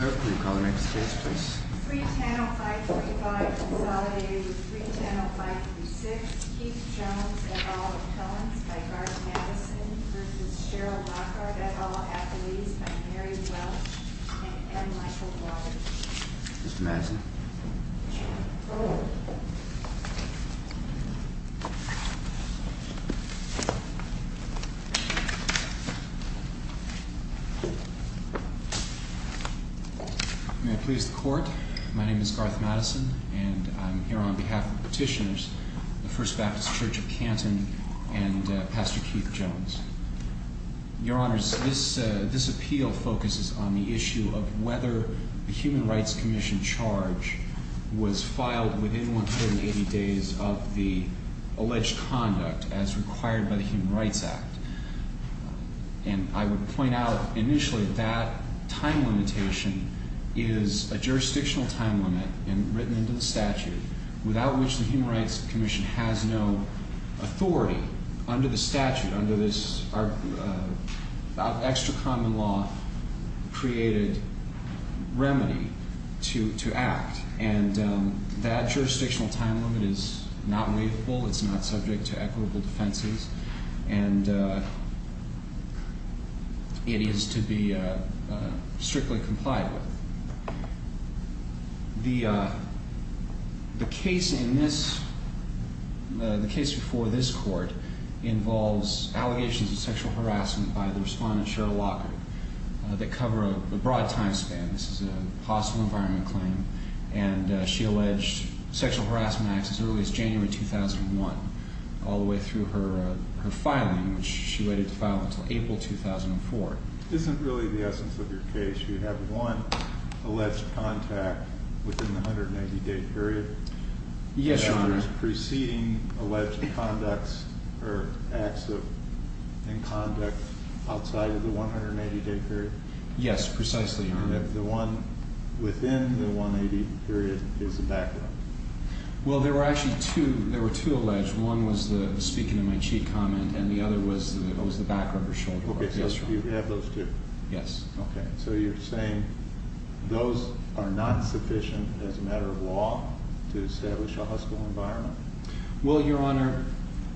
Can we call the next case please? 3-10-0535 consolidated with 3-10-0536 Keith Jones, et al. Appellants by Garth Madison v. Cheryl Lockard, et al. Athletes by Mary Welsh and M. Michael Waters. Mr. Madison. May I please the Court? My name is Garth Madison and I'm here on behalf of the petitioners, the First Baptist Church of Canton and Pastor Keith Jones. Your Honours, this appeal focuses on the issue of whether the Human Rights Commission charge was filed within 180 days of the alleged conduct as required by the Human Rights Act. And I would point out initially that time limitation is a jurisdictional time limit written into the statute without which the Human Rights Commission has no authority under the statute, under this extra common law created remedy to act. And that jurisdictional time limit is not waivable, it's not subject to equitable defenses, and it is to be strictly complied with. The case before this Court involves allegations of sexual harassment by the Respondent Cheryl Lockard that cover a broad time span. This is a hostile environment claim, and she alleged sexual harassment acts as early as January 2001, all the way through her filing, which she waited to file until April 2004. This isn't really the essence of your case. You have one alleged contact within the 180-day period. Yes, Your Honour. And there's preceding alleged conducts or acts of in-conduct outside of the 180-day period? Yes, precisely, Your Honour. And the one within the 180-day period is a backrubber. Well, there were actually two. There were two alleged. One was the speaking of my cheat comment, and the other was the backrubber. Okay, so you have those two? Yes. Okay. So you're saying those are not sufficient as a matter of law to establish a hostile environment? Well, Your Honour,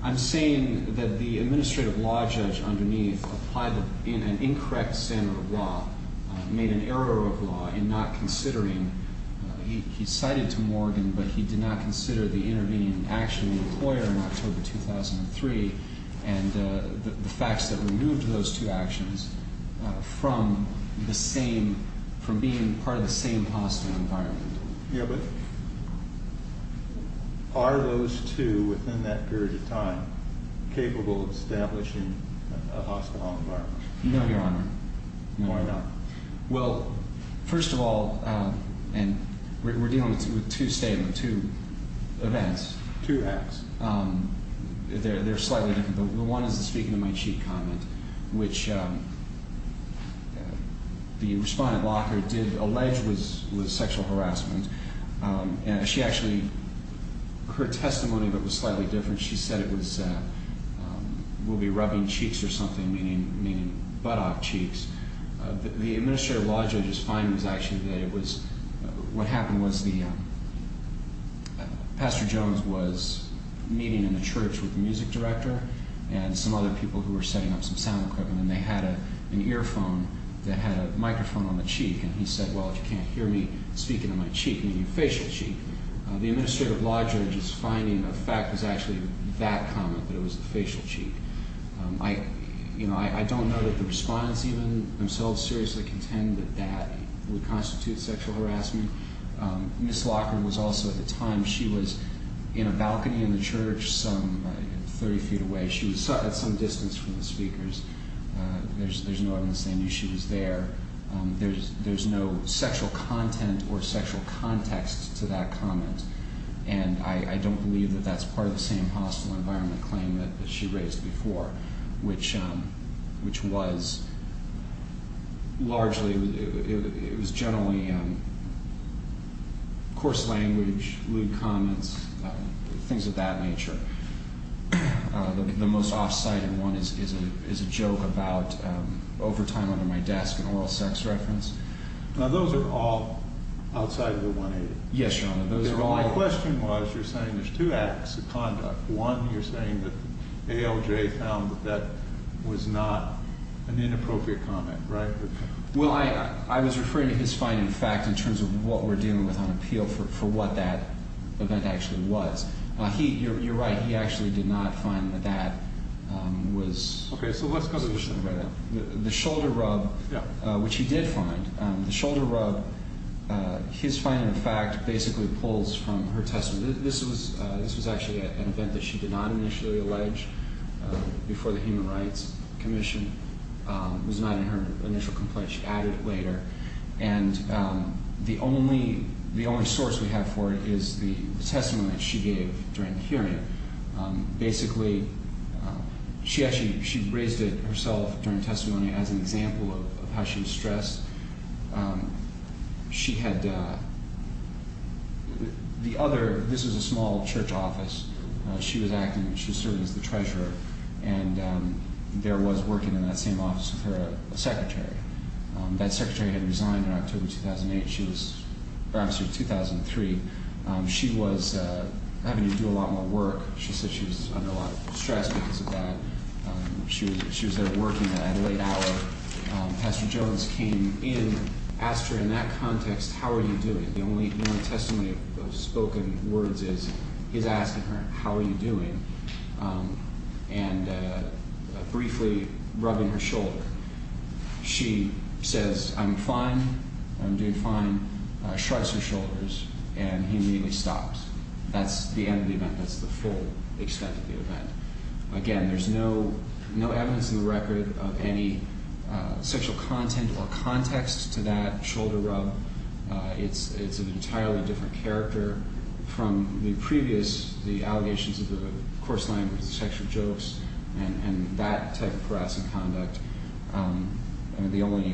I'm saying that the administrative law judge underneath applied an incorrect standard of law, made an error of law in not considering. He cited to Morgan, but he did not consider the intervening action in the employer in October 2003 and the facts that removed those two actions from being part of the same hostile environment. Yeah, but are those two, within that period of time, capable of establishing a hostile environment? No, Your Honour. Why not? Well, first of all, and we're dealing with two statements, two events. Two acts. They're slightly different. The one is the speaking of my cheat comment, which the respondent locker did allege was sexual harassment. And she actually, her testimony of it was slightly different. She said it was, we'll be rubbing cheeks or something, meaning buttock cheeks. The administrative law judge's finding was actually that it was, what happened was the, Pastor Jones was meeting in the church with the music director and some other people who were setting up some sound equipment. And they had an earphone that had a microphone on the cheek. And he said, well, if you can't hear me speaking of my cheek, meaning facial cheek, the administrative law judge's finding of fact was actually that comment, that it was the facial cheek. I don't know that the respondents even themselves seriously contend that that would constitute sexual harassment. Ms. Locker was also, at the time, she was in a balcony in the church some 30 feet away. She was at some distance from the speakers. There's no evidence they knew she was there. There's no sexual content or sexual context to that comment. And I don't believe that that's part of the same hostile environment claim that she raised before, which was largely, it was generally coarse language, lewd comments, things of that nature. The most off-cited one is a joke about overtime under my desk, an oral sex reference. Now, those are all outside of the 180. Yes, Your Honor. My question was, you're saying there's two acts of conduct. One, you're saying that ALJ found that that was not an inappropriate comment, right? Well, I was referring to his finding of fact in terms of what we're dealing with on appeal for what that event actually was. You're right. He actually did not find that that was. Okay. So let's go to the shoulder rub. The shoulder rub, which he did find. The shoulder rub, his finding of fact basically pulls from her testimony. This was actually an event that she did not initially allege before the Human Rights Commission. It was not in her initial complaint. She added it later. And the only source we have for it is the testimony that she gave during the hearing. Basically, she actually raised it herself during testimony as an example of how she was stressed. She had the other – this was a small church office. She was acting – she was serving as the treasurer, and there was working in that same office with her a secretary. That secretary had resigned in October 2008. She was – or actually 2003. She was having to do a lot more work. She said she was under a lot of stress because of that. She was there working that late hour. Pastor Jones came in, asked her in that context, how are you doing? The only testimony of spoken words is he's asking her, how are you doing, and briefly rubbing her shoulder. She says, I'm fine. I'm doing fine. Shrugs her shoulders, and he immediately stops. That's the end of the event. That's the full extent of the event. Again, there's no evidence in the record of any sexual content or context to that shoulder rub. It's an entirely different character from the previous – the allegations of the coarse language, the sexual jokes, and that type of harassing conduct. The only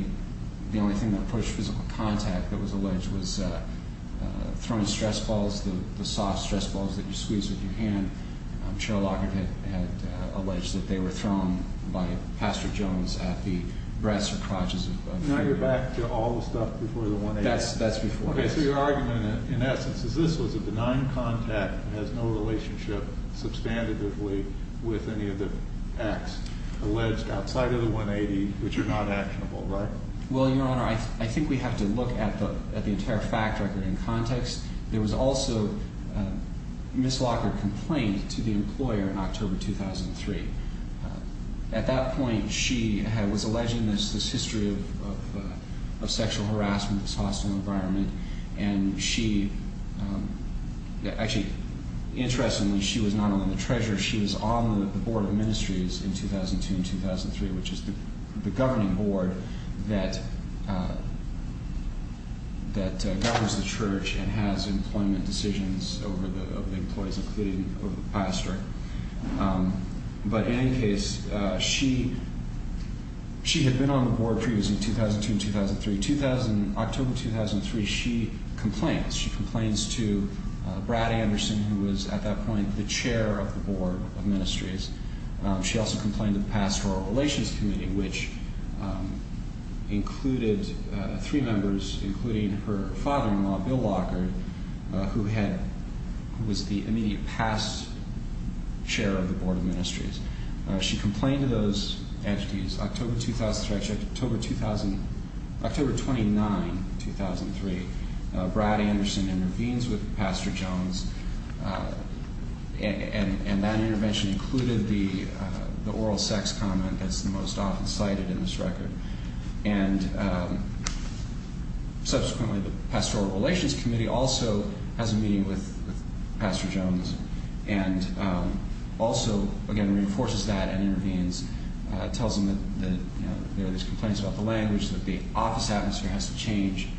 thing that pushed physical contact that was alleged was throwing stress balls, the soft stress balls that you squeeze with your hand. Cheryl Lockhart had alleged that they were thrown by Pastor Jones at the breasts or crotches of people. Now you're back to all the stuff before the 1A. That's before. So your argument, in essence, is this was a benign contact. It has no relationship substantively with any of the acts alleged outside of the 180, which are not actionable, right? Well, Your Honor, I think we have to look at the entire fact record in context. There was also a Ms. Lockhart complaint to the employer in October 2003. At that point, she was alleging this history of sexual harassment, this hostile environment, and she – actually, interestingly, she was not only the treasurer, she was on the Board of Ministries in 2002 and 2003, which is the governing board that governs the church and has employment decisions over the employees, including the pastor. But in any case, she had been on the board previously, 2002 and 2003. October 2003, she complains. She complains to Brad Anderson, who was at that point the chair of the Board of Ministries. She also complained to the Pastoral Relations Committee, which included three members, including her father-in-law, Bill Lockhart, who was the immediate past chair of the Board of Ministries. She complained to those entities. Actually, October 2009, 2003, Brad Anderson intervenes with Pastor Jones, and that intervention included the oral sex comment that's the most often cited in this record. And subsequently, the Pastoral Relations Committee also has a meeting with Pastor Jones and also, again, reinforces that and intervenes, tells him that there are these complaints about the language, that the office atmosphere has to change,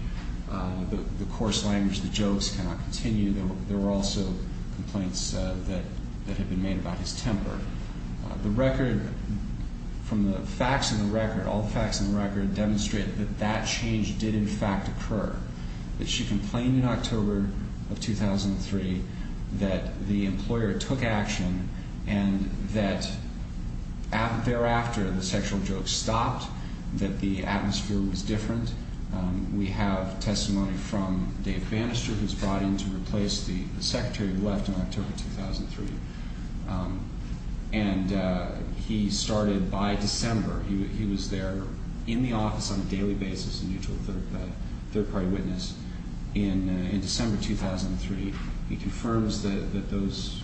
the coarse language, the jokes cannot continue. There were also complaints that had been made about his temper. The record, from the facts in the record, all the facts in the record demonstrate that that change did, in fact, occur. That she complained in October of 2003 that the employer took action and that thereafter the sexual jokes stopped, that the atmosphere was different. We have testimony from Dave Bannister, who was brought in to replace the secretary who left in October 2003. And he started by December. He was there in the office on a daily basis, a mutual third-party witness. In December 2003, he confirms that those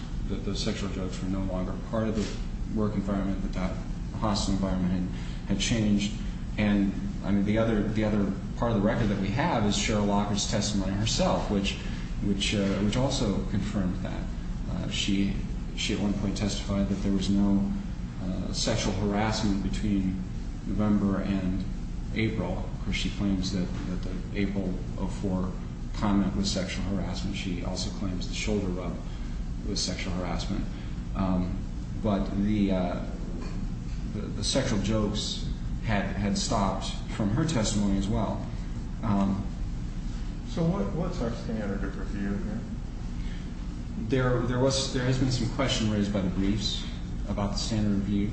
sexual jokes were no longer part of the work environment, that that hospital environment had changed. And, I mean, the other part of the record that we have is Cheryl Locker's testimony herself, which also confirmed that. She at one point testified that there was no sexual harassment between November and April. Of course, she claims that the April of 2004 comment was sexual harassment. She also claims the shoulder rub was sexual harassment. But the sexual jokes had stopped from her testimony as well. So what's our standard of review here? There has been some question raised by the briefs about the standard of view.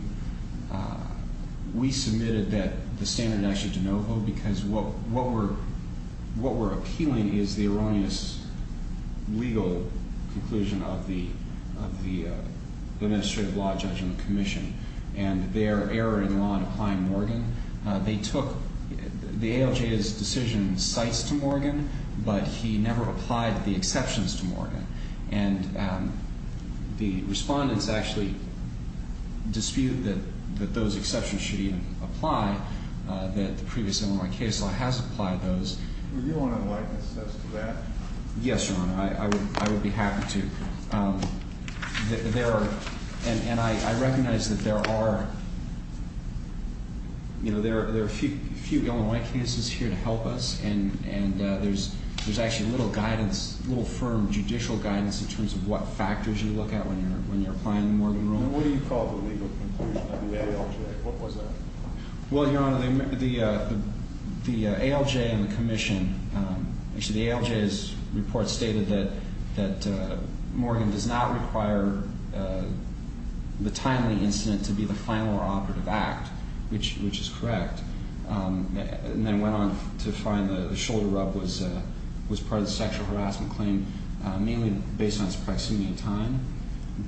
We submitted that the standard actually de novo because what we're appealing is the erroneous legal conclusion of the Administrative Law Judgment Commission and their error in law in applying Morgan. They took the ALJ's decision in cites to Morgan, but he never applied the exceptions to Morgan. And the respondents actually dispute that those exceptions should even apply, that the previous Illinois case law has applied those. Would you want to enlighten us to that? Yes, Your Honor, I would be happy to. There are, and I recognize that there are, you know, there are a few Illinois cases here to help us, and there's actually little guidance, little firm judicial guidance in terms of what factors you look at when you're applying the Morgan ruling. What do you call the legal conclusion of the ALJ? What was that? Well, Your Honor, the ALJ and the commission, actually the ALJ's report stated that Morgan does not require the timely incident to be the final or operative act, which is correct. And then went on to find the shoulder rub was part of the sexual harassment claim, mainly based on its proximity to time.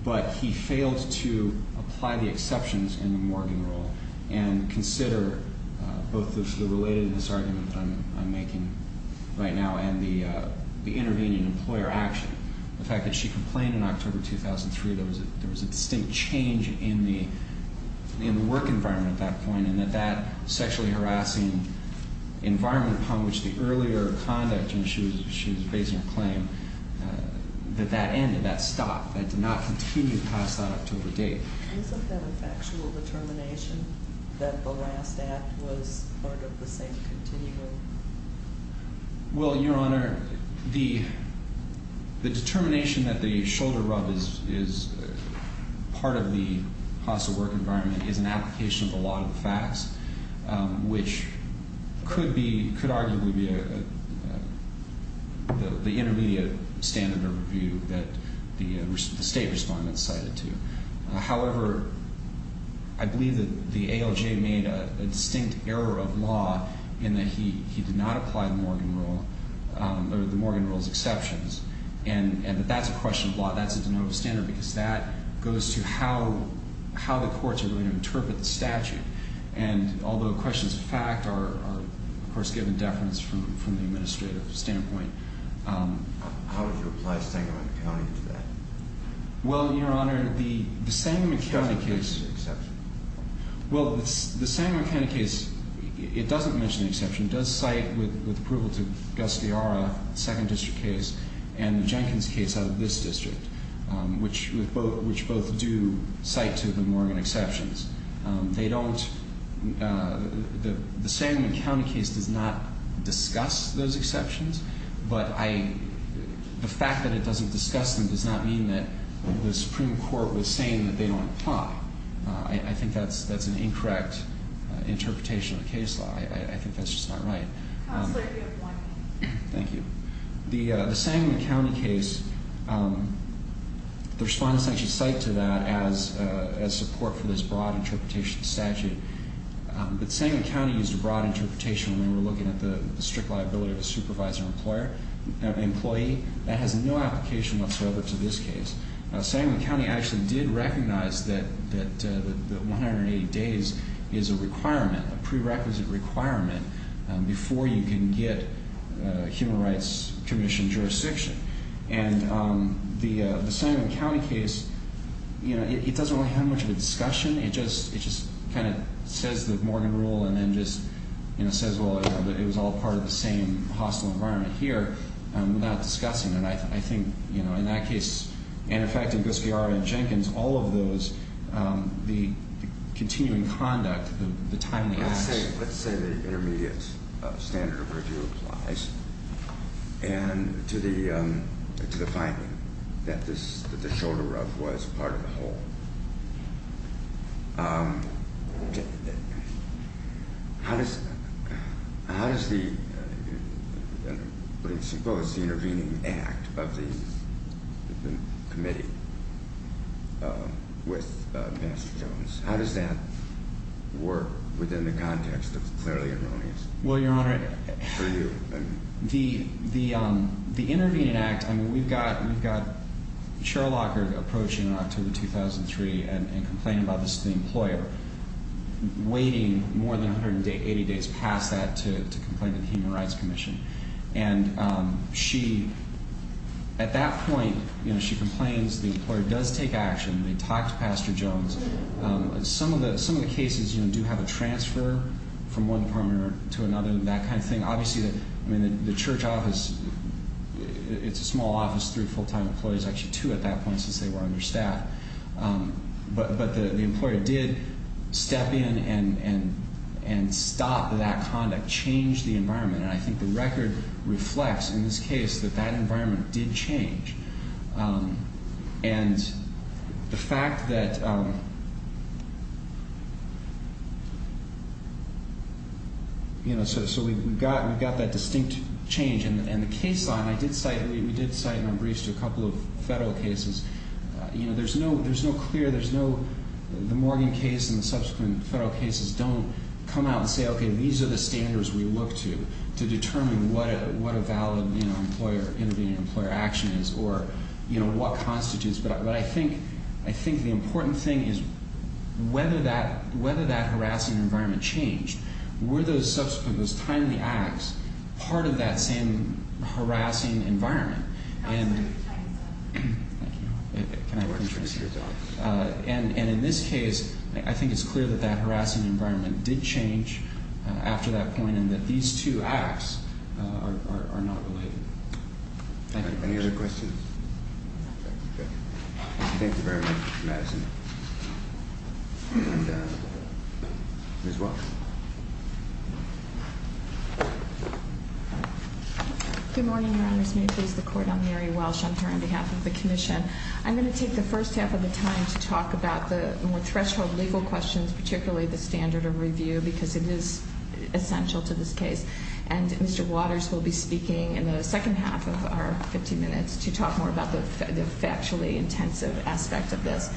But he failed to apply the exceptions in the Morgan rule and consider both the relatedness argument that I'm making right now and the intervening employer action. The fact that she complained in October 2003, there was a distinct change in the work environment at that point, and that that sexually harassing environment upon which the earlier conduct, and she was basing her claim, that that ended, that stopped, that did not continue past that October date. Isn't that a factual determination that the last act was part of the same continuum? Well, Your Honor, the determination that the shoulder rub is part of the hostile work environment is an application of the law of the facts, which could arguably be the intermediate standard of review that the state respondent cited to. However, I believe that the ALJ made a distinct error of law in that he did not apply the Morgan rule or the Morgan rule's exceptions. And that that's a question of law. That's a de novo standard because that goes to how the courts are going to interpret the statute. And although questions of fact are, of course, given deference from the administrative standpoint. How would you apply Stengelman County to that? Well, Your Honor, the Stengelman County case. It doesn't mention the exception. Well, the Stengelman County case, it doesn't mention the exception. It does cite, with approval to Gus Diara, the second district case, and the Jenkins case out of this district, which both do cite to the Morgan exceptions. They don't. The Stengelman County case does not discuss those exceptions. But the fact that it doesn't discuss them does not mean that the Supreme Court was saying that they don't apply. I think that's an incorrect interpretation of the case law. I think that's just not right. Counselor, you have one minute. Thank you. The Stengelman County case, the Respondents actually cite to that as support for this broad interpretation of the statute. But Stengelman County used a broad interpretation when they were looking at the strict liability of a supervisor employee. That has no application whatsoever to this case. Stengelman County actually did recognize that 180 days is a requirement, a prerequisite requirement, before you can get human rights commission jurisdiction. And the Stengelman County case, it doesn't really have much of a discussion. It just kind of says the Morgan rule and then just says, well, it was all part of the same hostile environment here without discussing it. I think, you know, in that case, and, in fact, in Guskiara and Jenkins, all of those, the continuing conduct, the timely action. Let's say the intermediate standard of review applies, and to the finding that the shoulder ruff was part of the whole. How does the intervening act of the committee with Mr. Jones, how does that work within the context of clearly erroneous? Well, Your Honor, the intervening act, I mean, we've got Cheryl Lockard approaching in October 2003 and complaining about this to the employer. Waiting more than 180 days past that to complain to the Human Rights Commission. And she, at that point, you know, she complains the employer does take action. They talk to Pastor Jones. Some of the cases, you know, do have a transfer from one department to another and that kind of thing. Obviously, I mean, the church office, it's a small office, three full-time employees, actually two at that point since they were understaffed. But the employer did step in and stop that conduct, change the environment. And I think the record reflects, in this case, that that environment did change. And the fact that, you know, so we've got that distinct change. And the case line, I did cite, we did cite in our briefs to a couple of federal cases. You know, there's no clear, there's no, the Morgan case and the subsequent federal cases don't come out and say, okay, these are the standards we look to, to determine what a valid, you know, employer intervening employer action is or, you know, what constitutes. But I think the important thing is whether that harassing environment changed. Were those subsequent, those timely acts part of that same harassing environment? And in this case, I think it's clear that that harassing environment did change after that point and that these two acts are not related. Thank you. Any other questions? Okay. Thank you very much, Madison. And Ms. Welch. Good morning, Your Honors. May it please the Court, I'm Mary Welch. I'm here on behalf of the Commission. I'm going to take the first half of the time to talk about the more threshold legal questions, particularly the standard of review, because it is essential to this case. And Mr. Waters will be speaking in the second half of our 15 minutes to talk more about the factually intensive aspect of this.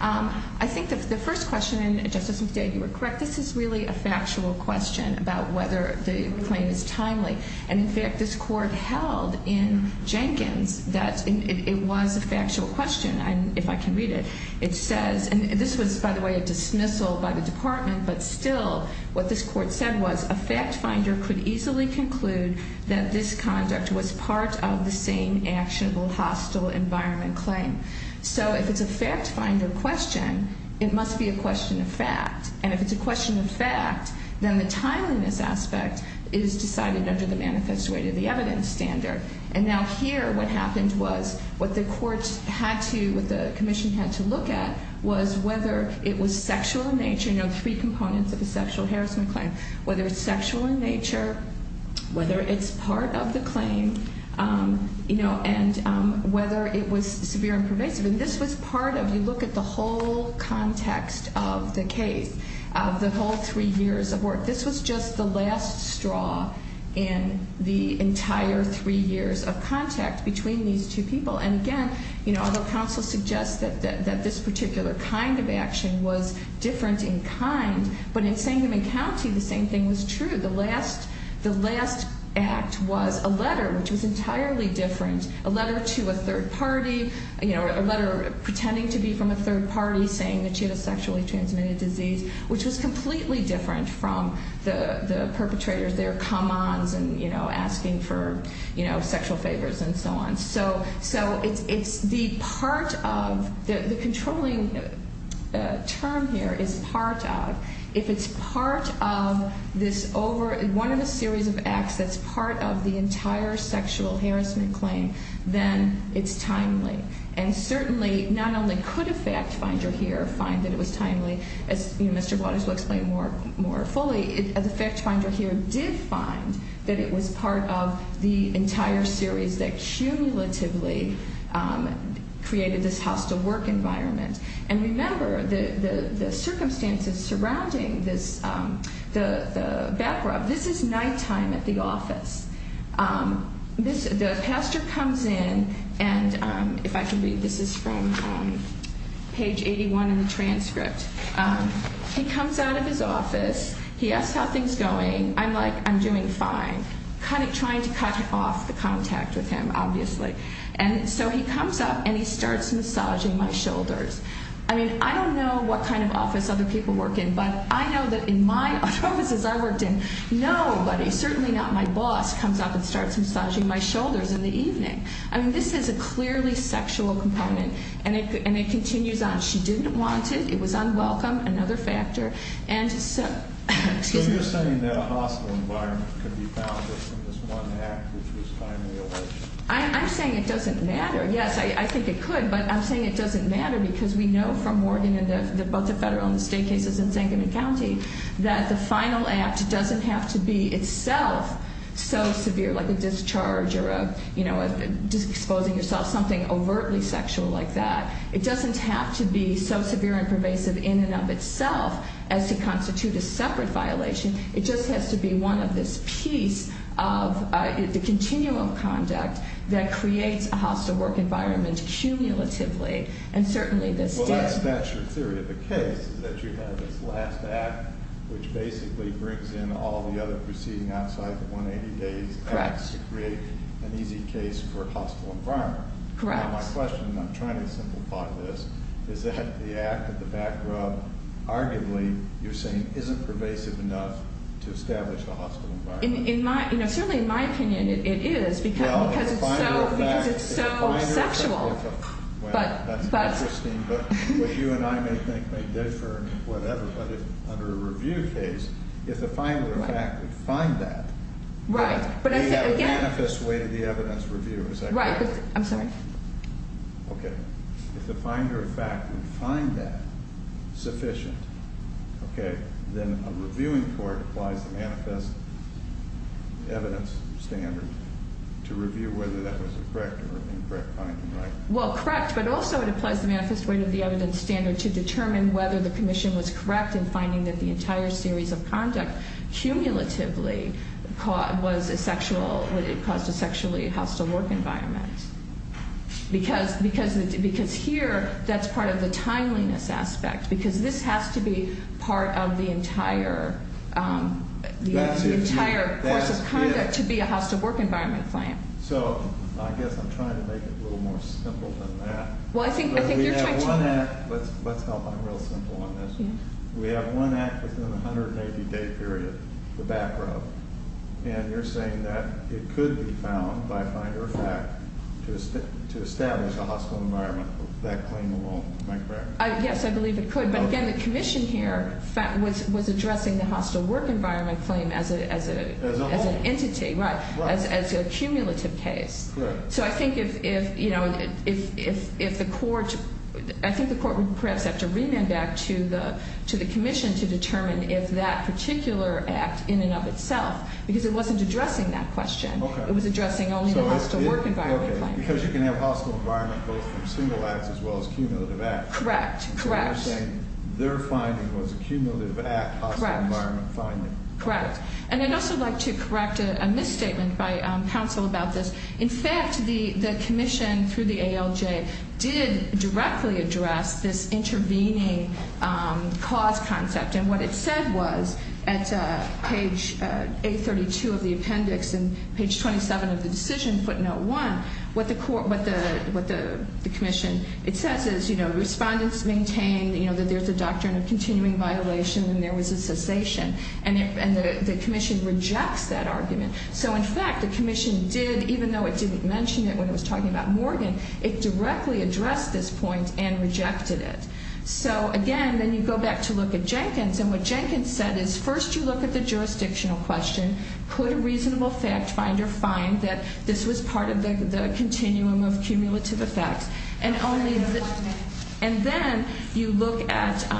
I think the first question, Justice McDade, you were correct, this is really a factual question about whether the claim is timely. And, in fact, this Court held in Jenkins that it was a factual question, if I can read it. It says, and this was, by the way, a dismissal by the Department, but still what this Court said was a fact finder could easily conclude that this conduct was part of the same actionable hostile environment claim. So if it's a fact finder question, it must be a question of fact. And if it's a question of fact, then the timeliness aspect is decided under the manifest way to the evidence standard. And now here what happened was what the Court had to, what the Commission had to look at was whether it was sexual in nature, you know, three components of a sexual harassment claim, whether it's sexual in nature, whether it's part of the claim, you know, and whether it was severe and pervasive. And this was part of, you look at the whole context of the case, of the whole three years of work, this was just the last straw in the entire three years of contact between these two people. And, again, you know, although counsel suggests that this particular kind of action was different in kind, but in Sangamon County the same thing was true. The last act was a letter which was entirely different, a letter to a third party, you know, a letter pretending to be from a third party saying that she had a sexually transmitted disease, which was completely different from the perpetrators, their come ons and, you know, asking for, you know, sexual favors and so on. So it's the part of, the controlling term here is part of. If it's part of this over, one of the series of acts that's part of the entire sexual harassment claim, then it's timely. And certainly not only could a fact finder here find that it was timely, as Mr. Waters will explain more fully, the fact finder here did find that it was part of the entire series that cumulatively created this hostile work environment. And remember, the circumstances surrounding this, the back rub, this is nighttime at the office. The pastor comes in, and if I can read, this is from page 81 in the transcript. He comes out of his office. He asks how things are going. I'm like, I'm doing fine, kind of trying to cut off the contact with him, obviously. And so he comes up and he starts massaging my shoulders. I mean, I don't know what kind of office other people work in, but I know that in my offices I worked in, I know, but certainly not my boss comes up and starts massaging my shoulders in the evening. I mean, this is a clearly sexual component, and it continues on. She didn't want it. It was unwelcome, another factor. And so, excuse me. So you're saying that a hostile environment could be found within this one act, which was timely over. I'm saying it doesn't matter. Yes, I think it could, but I'm saying it doesn't matter because we know from Morgan and both the federal and the state cases in Sangamon County that the final act doesn't have to be itself so severe, like a discharge or a, you know, just exposing yourself, something overtly sexual like that. It doesn't have to be so severe and pervasive in and of itself as to constitute a separate violation. It just has to be one of this piece of the continuum of conduct that creates a hostile work environment cumulatively, and certainly this did. Yes, that's your theory. The case is that you have this last act, which basically brings in all the other proceeding outside the 180 days. Correct. To create an easy case for a hostile environment. Correct. Now, my question, and I'm trying to simplify this, is that the act at the back row, arguably, you're saying, isn't pervasive enough to establish a hostile environment. In my, you know, certainly in my opinion it is because it's so sexual. Well, that's interesting, but what you and I may think may differ, whatever, but under a review case, if the finder of fact would find that. Right. We have a manifest way to the evidence review, is that correct? Right. I'm sorry. Okay. If the finder of fact would find that sufficient, okay, then a reviewing court applies the manifest evidence standard to review whether that was correct or incorrect finding, right? Well, correct, but also it applies the manifest way to the evidence standard to determine whether the commission was correct in finding that the entire series of conduct cumulatively caused a sexually hostile work environment. Because here, that's part of the timeliness aspect, because this has to be part of the entire course of conduct to be a hostile work environment claim. So I guess I'm trying to make it a little more simple than that. Well, I think you're trying to. Let's help. I'm real simple on this. We have one act within a 180-day period, the back row, and you're saying that it could be found by finder of fact to establish a hostile environment, that claim alone. Am I correct? Yes, I believe it could. But again, the commission here was addressing the hostile work environment claim as an entity, right, as a cumulative case. So I think if the court would perhaps have to remand back to the commission to determine if that particular act in and of itself, because it wasn't addressing that question. It was addressing only the hostile work environment claim. Okay, because you can have hostile environment both from single acts as well as cumulative acts. Correct, correct. So you're saying their finding was a cumulative act hostile environment finding. Correct. And I'd also like to correct a misstatement by counsel about this. In fact, the commission through the ALJ did directly address this intervening cause concept. And what it said was at page 832 of the appendix and page 27 of the decision footnote 1, what the commission, it says is, you know, respondents maintain, you know, that there's a doctrine of continuing violation and there was a cessation. And the commission rejects that argument. So, in fact, the commission did, even though it didn't mention it when it was talking about Morgan, it directly addressed this point and rejected it. So, again, then you go back to look at Jenkins. And what Jenkins said is first you look at the jurisdictional question. Could a reasonable fact finder find that this was part of the continuum of cumulative effects? And then you look at the,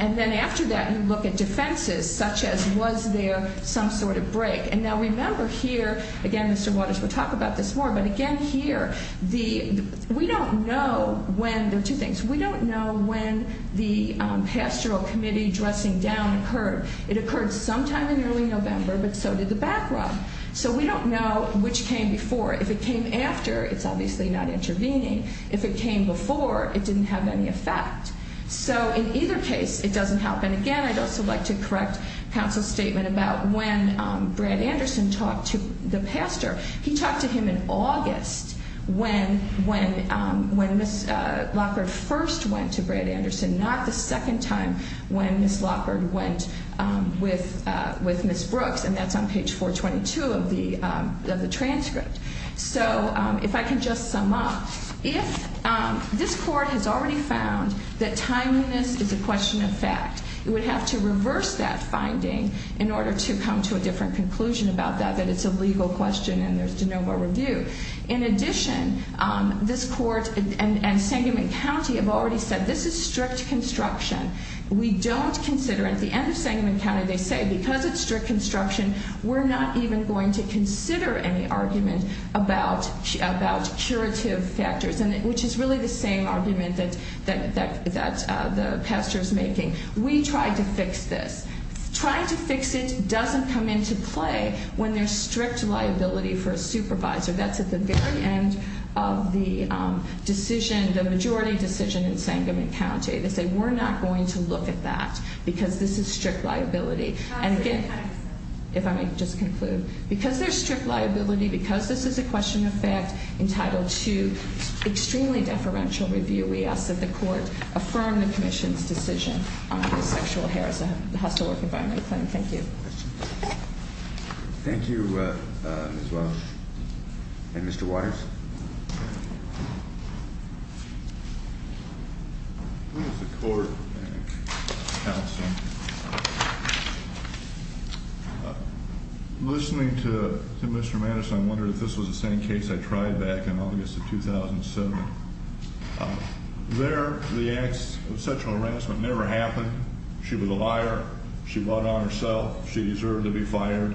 and then after that you look at defenses such as was there some sort of break. And now remember here, again, Mr. Waters will talk about this more, but again here, we don't know when, there are two things, we don't know when the pastoral committee dressing down occurred. It occurred sometime in early November, but so did the back rub. So we don't know which came before. If it came after, it's obviously not intervening. If it came before, it didn't have any effect. So, in either case, it doesn't help. And, again, I'd also like to correct counsel's statement about when Brad Anderson talked to the pastor. He talked to him in August when Ms. Lockard first went to Brad Anderson, not the second time when Ms. Lockard went with Ms. Brooks, and that's on page 422 of the transcript. So if I can just sum up, if this court has already found that timeliness is a question of fact, it would have to reverse that finding in order to come to a different conclusion about that, that it's a legal question and there's de novo review. In addition, this court and Sangamon County have already said this is strict construction. We don't consider, at the end of Sangamon County, they say because it's strict construction, we're not even going to consider any argument about curative factors, which is really the same argument that the pastor is making. We tried to fix this. Trying to fix it doesn't come into play when there's strict liability for a supervisor. That's at the very end of the decision, the majority decision in Sangamon County. They say we're not going to look at that because this is strict liability. And again, if I may just conclude, because there's strict liability, because this is a question of fact entitled to extremely deferential review, we ask that the court affirm the commission's decision on this sexual harassment hostile work environment claim. Thank you. Thank you, Ms. Walsh. And Mr. Waters. Listening to Mr. Mattis, I wonder if this was the same case I tried back in August of 2007. There, the acts of sexual harassment never happened. She was a liar. She bought on herself. She deserved to be fired.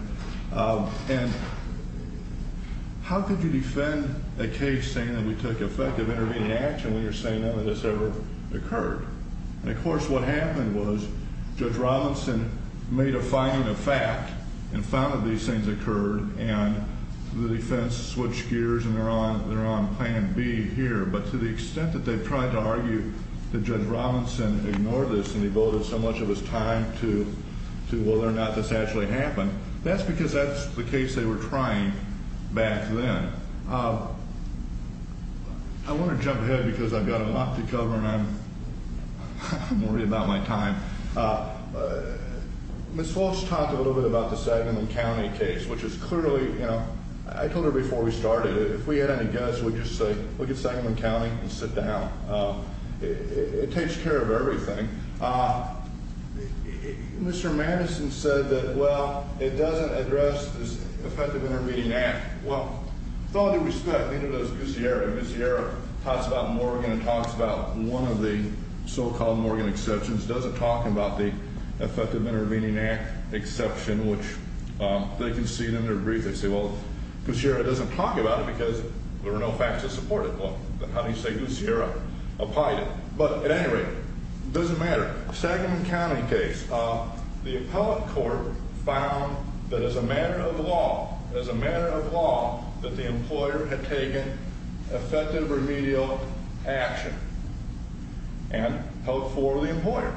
And how could you defend a case saying that we took effective intervening action when you're saying none of this ever occurred? And, of course, what happened was Judge Robinson made a finding of fact and found that these things occurred, and the defense switched gears and they're on plan B here. But to the extent that they've tried to argue that Judge Robinson ignored this and he voted so much of his time to whether or not this actually happened, that's because that's the case they were trying back then. I want to jump ahead because I've got a lot to cover and I'm worried about my time. Ms. Walsh talked a little bit about the Saginaw County case, which is clearly, you know, I told her before we started, if we had any guests, we'd just say, look at Saginaw County and sit down. It takes care of everything. Mr. Madison said that, well, it doesn't address this effective intervening act. Well, with all due respect, neither does Ms. Yerra. Ms. Yerra talks about Morgan and talks about one of the so-called Morgan exceptions, doesn't talk about the effective intervening act exception, which they concede in their brief. They say, well, Ms. Yerra doesn't talk about it because there were no facts to support it. Well, then how do you say Ms. Yerra opined it? But at any rate, it doesn't matter. Saginaw County case, the appellate court found that as a matter of law, as a matter of law, that the employer had taken effective remedial action and held for the employer.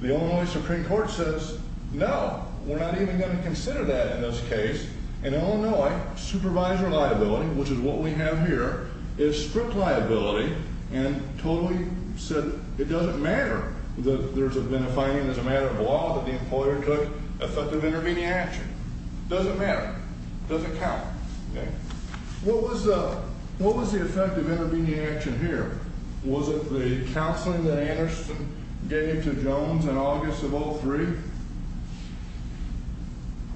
The Illinois Supreme Court says, no, we're not even going to consider that in this case. In Illinois, supervisor liability, which is what we have here, is strict liability and totally said it doesn't matter that there's been a finding as a matter of law that the employer took effective intervening action. It doesn't matter. It doesn't count. What was the effective intervening action here? Was it the counseling that Anderson gave to Jones in August of 2003?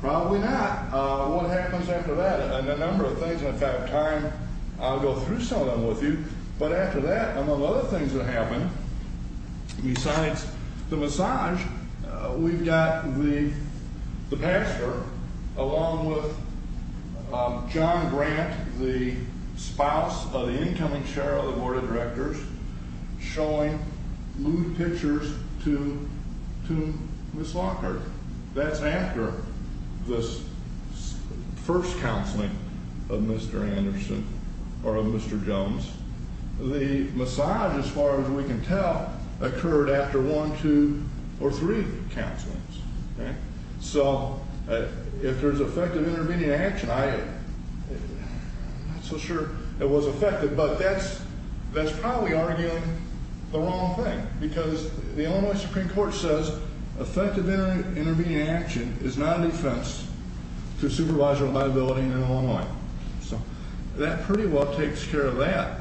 Probably not. What happens after that? And a number of things, and if I have time, I'll go through some of them with you. But after that, among other things that happened, besides the massage, we've got the pastor, along with John Grant, the spouse of the incoming chair of the board of directors, showing nude pictures to Ms. Lockhart. That's after this first counseling of Mr. Anderson or of Mr. Jones. The massage, as far as we can tell, occurred after one, two, or three counselings. So if there's effective intervening action, I'm not so sure it was effective, but that's probably arguing the wrong thing because the Illinois Supreme Court says effective intervening action is not a defense to supervisor liability in Illinois. So that pretty well takes care of that.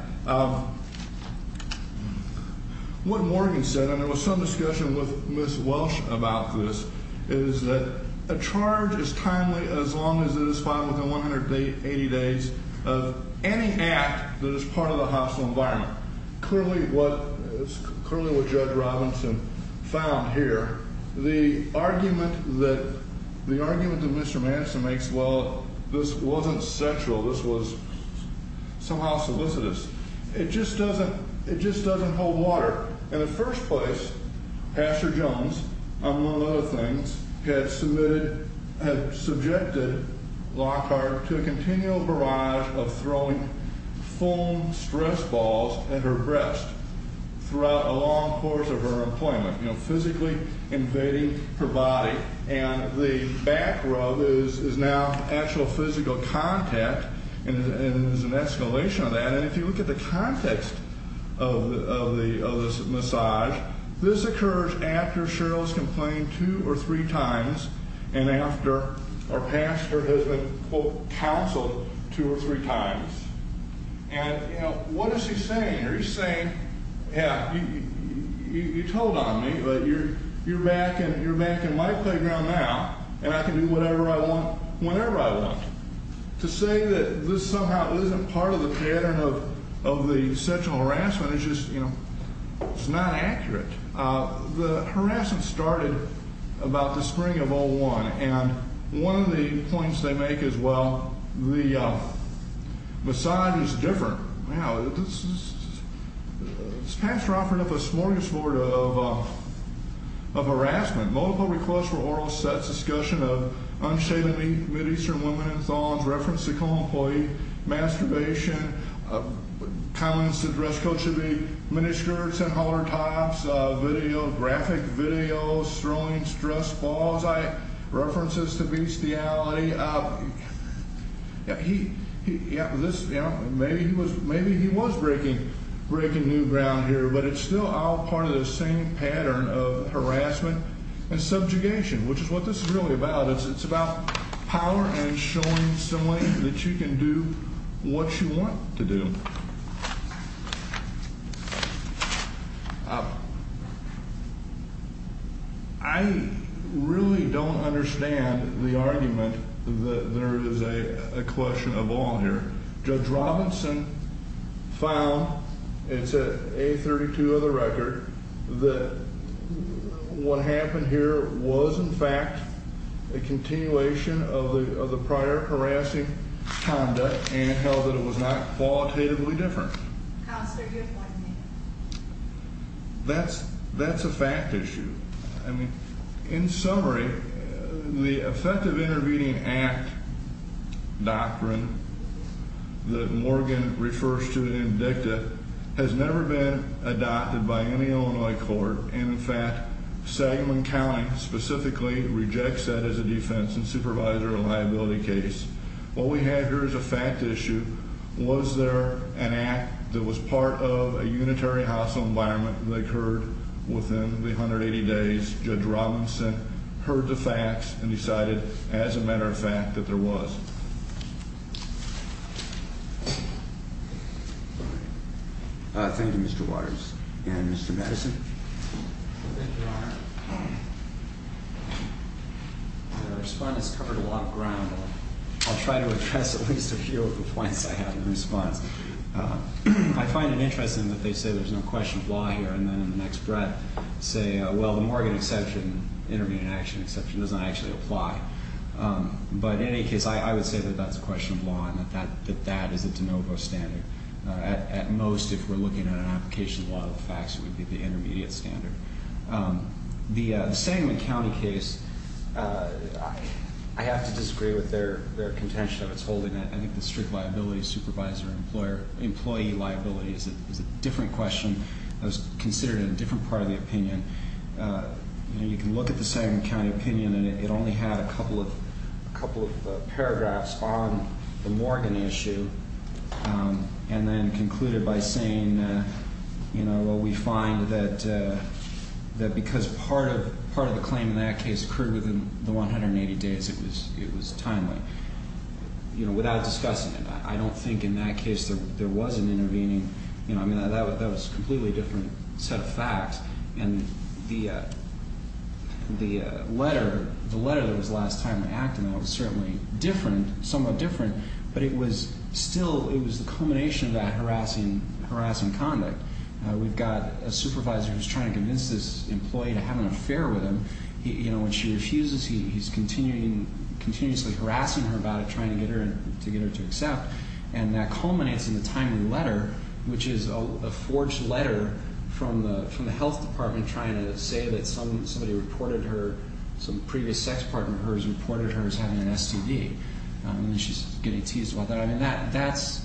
What Morgan said, and there was some discussion with Ms. Welsh about this, is that a charge is timely as long as it is filed within 180 days of any act that is part of the hostile environment. Clearly what Judge Robinson found here, the argument that Mr. Anderson makes, well, this wasn't sexual, this was somehow solicitous, it just doesn't hold water. In the first place, Pastor Jones, among other things, had submitted, had subjected Lockhart to a continual barrage of throwing foam stress balls at her breast throughout a long course of her employment, physically invading her body. And the back rub is now actual physical contact, and there's an escalation of that. And if you look at the context of this massage, this occurs after Cheryl has complained two or three times and after our pastor has been, quote, counseled two or three times. And, you know, what is he saying? He's saying, yeah, you told on me, but you're back in my playground now, and I can do whatever I want whenever I want. To say that this somehow isn't part of the pattern of the sexual harassment is just, you know, it's not accurate. The harassment started about the spring of 01, and one of the points they make is, well, the massage is different. Now, this pastor offered up a smorgasbord of harassment, multiple requests for oral sex, discussion of unshaven mid-eastern women in thongs, reference to co-employee masturbation, comments to dress code should be miniskirts and hollertops, video, graphic video, throwing stress balls, references to bestiality. Maybe he was breaking new ground here, but it's still all part of the same pattern of harassment and subjugation, which is what this is really about. It's about power and showing someone that you can do what you want to do. I really don't understand the argument that there is a question of all here. Judge Robinson found, it's at A32 of the record, that what happened here was, in fact, a continuation of the prior harassing conduct and held that it was not qualitatively different. Counselor, do you have a point to make? That's a fact issue. I mean, in summary, the effective intervening act doctrine that Morgan refers to in DICTA has never been adopted by any Illinois court. In fact, Sagamon County specifically rejects that as a defense and supervisor liability case. What we have here is a fact issue. Was there an act that was part of a unitary hostile environment that occurred within the 180 days? Judge Robinson heard the facts and decided, as a matter of fact, that there was. Thank you, Mr. Waters. And Mr. Madison? Thank you, Your Honor. Your response has covered a lot of ground. I'll try to address at least a few of the points I have in response. I find it interesting that they say there's no question of law here and then in the next breath say, well, the Morgan exception, intervening action exception, doesn't actually apply. But in any case, I would say that that's a question of law and that that is a de novo standard. At most, if we're looking at an application of the law of the facts, it would be the intermediate standard. The Sagamon County case, I have to disagree with their contention of its holding. I think the strict liability supervisor employee liability is a different question. It was considered a different part of the opinion. You can look at the Sagamon County opinion and it only had a couple of paragraphs on the Morgan issue and then concluded by saying, well, we find that because part of the claim in that case occurred within the 180 days, it was timely. Without discussing it, I don't think in that case there was an intervening. That was a completely different set of facts. And the letter that was last time to act on that was certainly different, somewhat different, but it was still the culmination of that harassing conduct. We've got a supervisor who's trying to convince this employee to have an affair with him. When she refuses, he's continuously harassing her about it, trying to get her to accept. And that culminates in the timely letter, which is a forged letter from the health department trying to say that somebody reported her, some previous sex partner of hers reported her as having an STD. She's getting teased about that. I mean, that's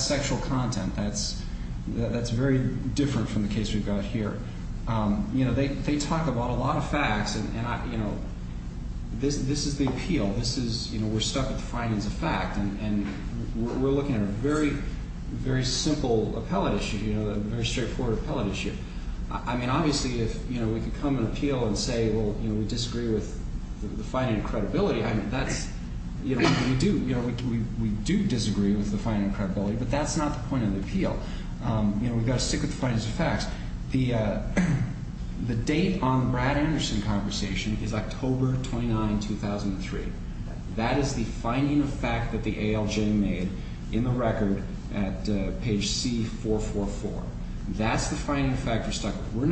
sexual content. That's very different from the case we've got here. They talk about a lot of facts, and this is the appeal. We're stuck with the findings of fact, and we're looking at a very, very simple appellate issue, a very straightforward appellate issue. I mean, obviously if we could come and appeal and say, well, we disagree with the finding of credibility, I mean, we do disagree with the finding of credibility, but that's not the point of the appeal. We've got to stick with the findings of facts. The date on the Brad Anderson conversation is October 29, 2003. That is the finding of fact that the ALJ made in the record at page C444. That's the finding of fact we're stuck with. We're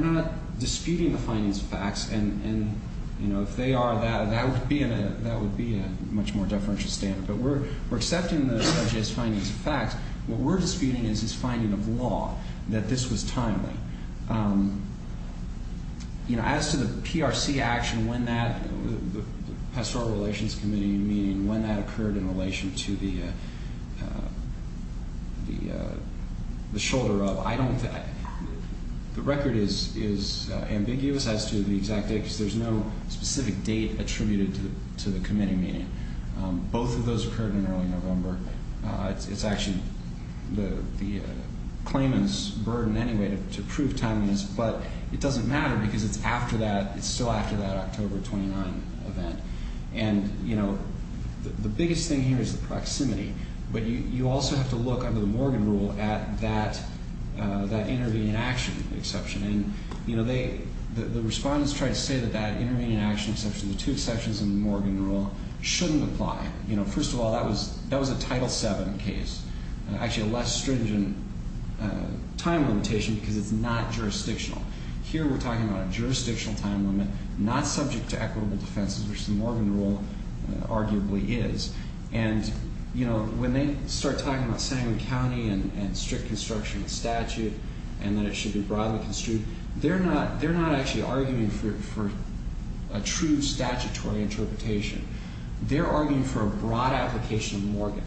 not disputing the findings of facts, and if they are, that would be a much more deferential standard. But we're accepting the ALJ's findings of facts. What we're disputing is his finding of law, that this was timely. As to the PRC action, when that pastoral relations committee meeting, when that occurred in relation to the shoulder rub, I don't think the record is ambiguous as to the exact date because there's no specific date attributed to the committee meeting. Both of those occurred in early November. It's actually the claimant's burden anyway to prove timeliness, but it doesn't matter because it's after that, it's still after that October 29 event. And, you know, the biggest thing here is the proximity, but you also have to look under the Morgan rule at that intervening action exception. And, you know, the respondents tried to say that that intervening action exception, the two exceptions in the Morgan rule, shouldn't apply. You know, first of all, that was a Title VII case, actually a less stringent time limitation because it's not jurisdictional. Here we're talking about a jurisdictional time limit, not subject to equitable defenses, which the Morgan rule arguably is. And, you know, when they start talking about Sandring County and strict construction statute and that it should be broadly construed, they're not actually arguing for a true statutory interpretation. They're arguing for a broad application of Morgan.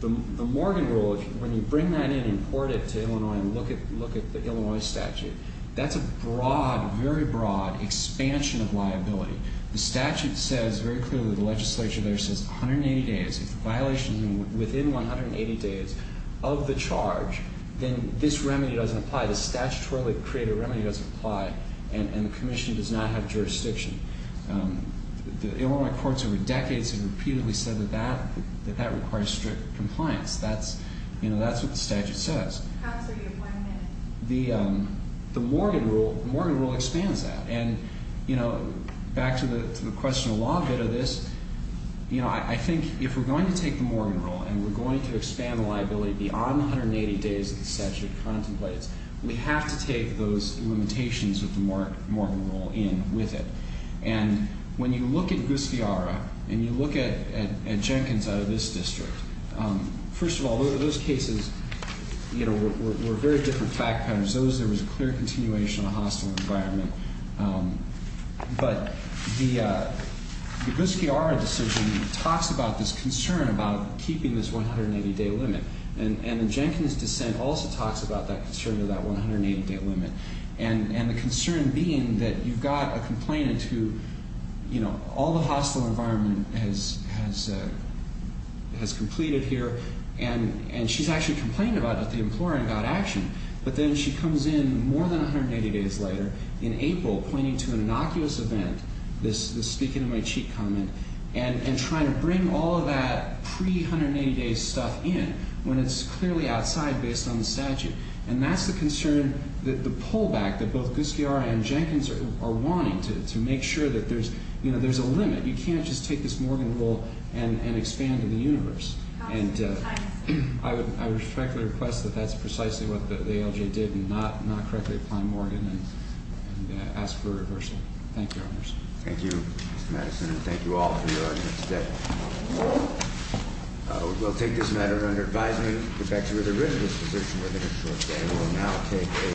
The Morgan rule, when you bring that in and import it to Illinois and look at the Illinois statute, that's a broad, very broad expansion of liability. The statute says very clearly, the legislature there says 180 days. If the violation is within 180 days of the charge, then this remedy doesn't apply. The statutorily created remedy doesn't apply, and the commission does not have jurisdiction. The Illinois courts over decades have repeatedly said that that requires strict compliance. That's, you know, that's what the statute says. How's the reappointment? The Morgan rule expands that. And, you know, back to the question of law a bit of this, you know, I think if we're going to take the Morgan rule and we're going to expand the liability beyond the 180 days that the statute contemplates, we have to take those limitations of the Morgan rule in with it. And when you look at Guskiara and you look at Jenkins out of this district, first of all, those cases, you know, were very different fact patterns. Those, there was a clear continuation of the hostile environment. But the Guskiara decision talks about this concern about keeping this 180-day limit, and Jenkins' dissent also talks about that concern of that 180-day limit. And the concern being that you've got a complainant who, you know, all the hostile environment has completed here, and she's actually complained about it, the employer got action. But then she comes in more than 180 days later in April pointing to an innocuous event, this speaking of my cheek comment, and trying to bring all of that pre-180-day stuff in when it's clearly outside based on the statute. And that's the concern that the pullback that both Guskiara and Jenkins are wanting to make sure that there's, you know, there's a limit. You can't just take this Morgan rule and expand to the universe. And I respectfully request that that's precisely what the ALJ did and not correctly apply Morgan and ask for a reversal. Thank you, Your Honors. Thank you, Mr. Madison, and thank you all for your arguments today. We'll take this matter under advisement. We'd like to get rid of this position within a short day.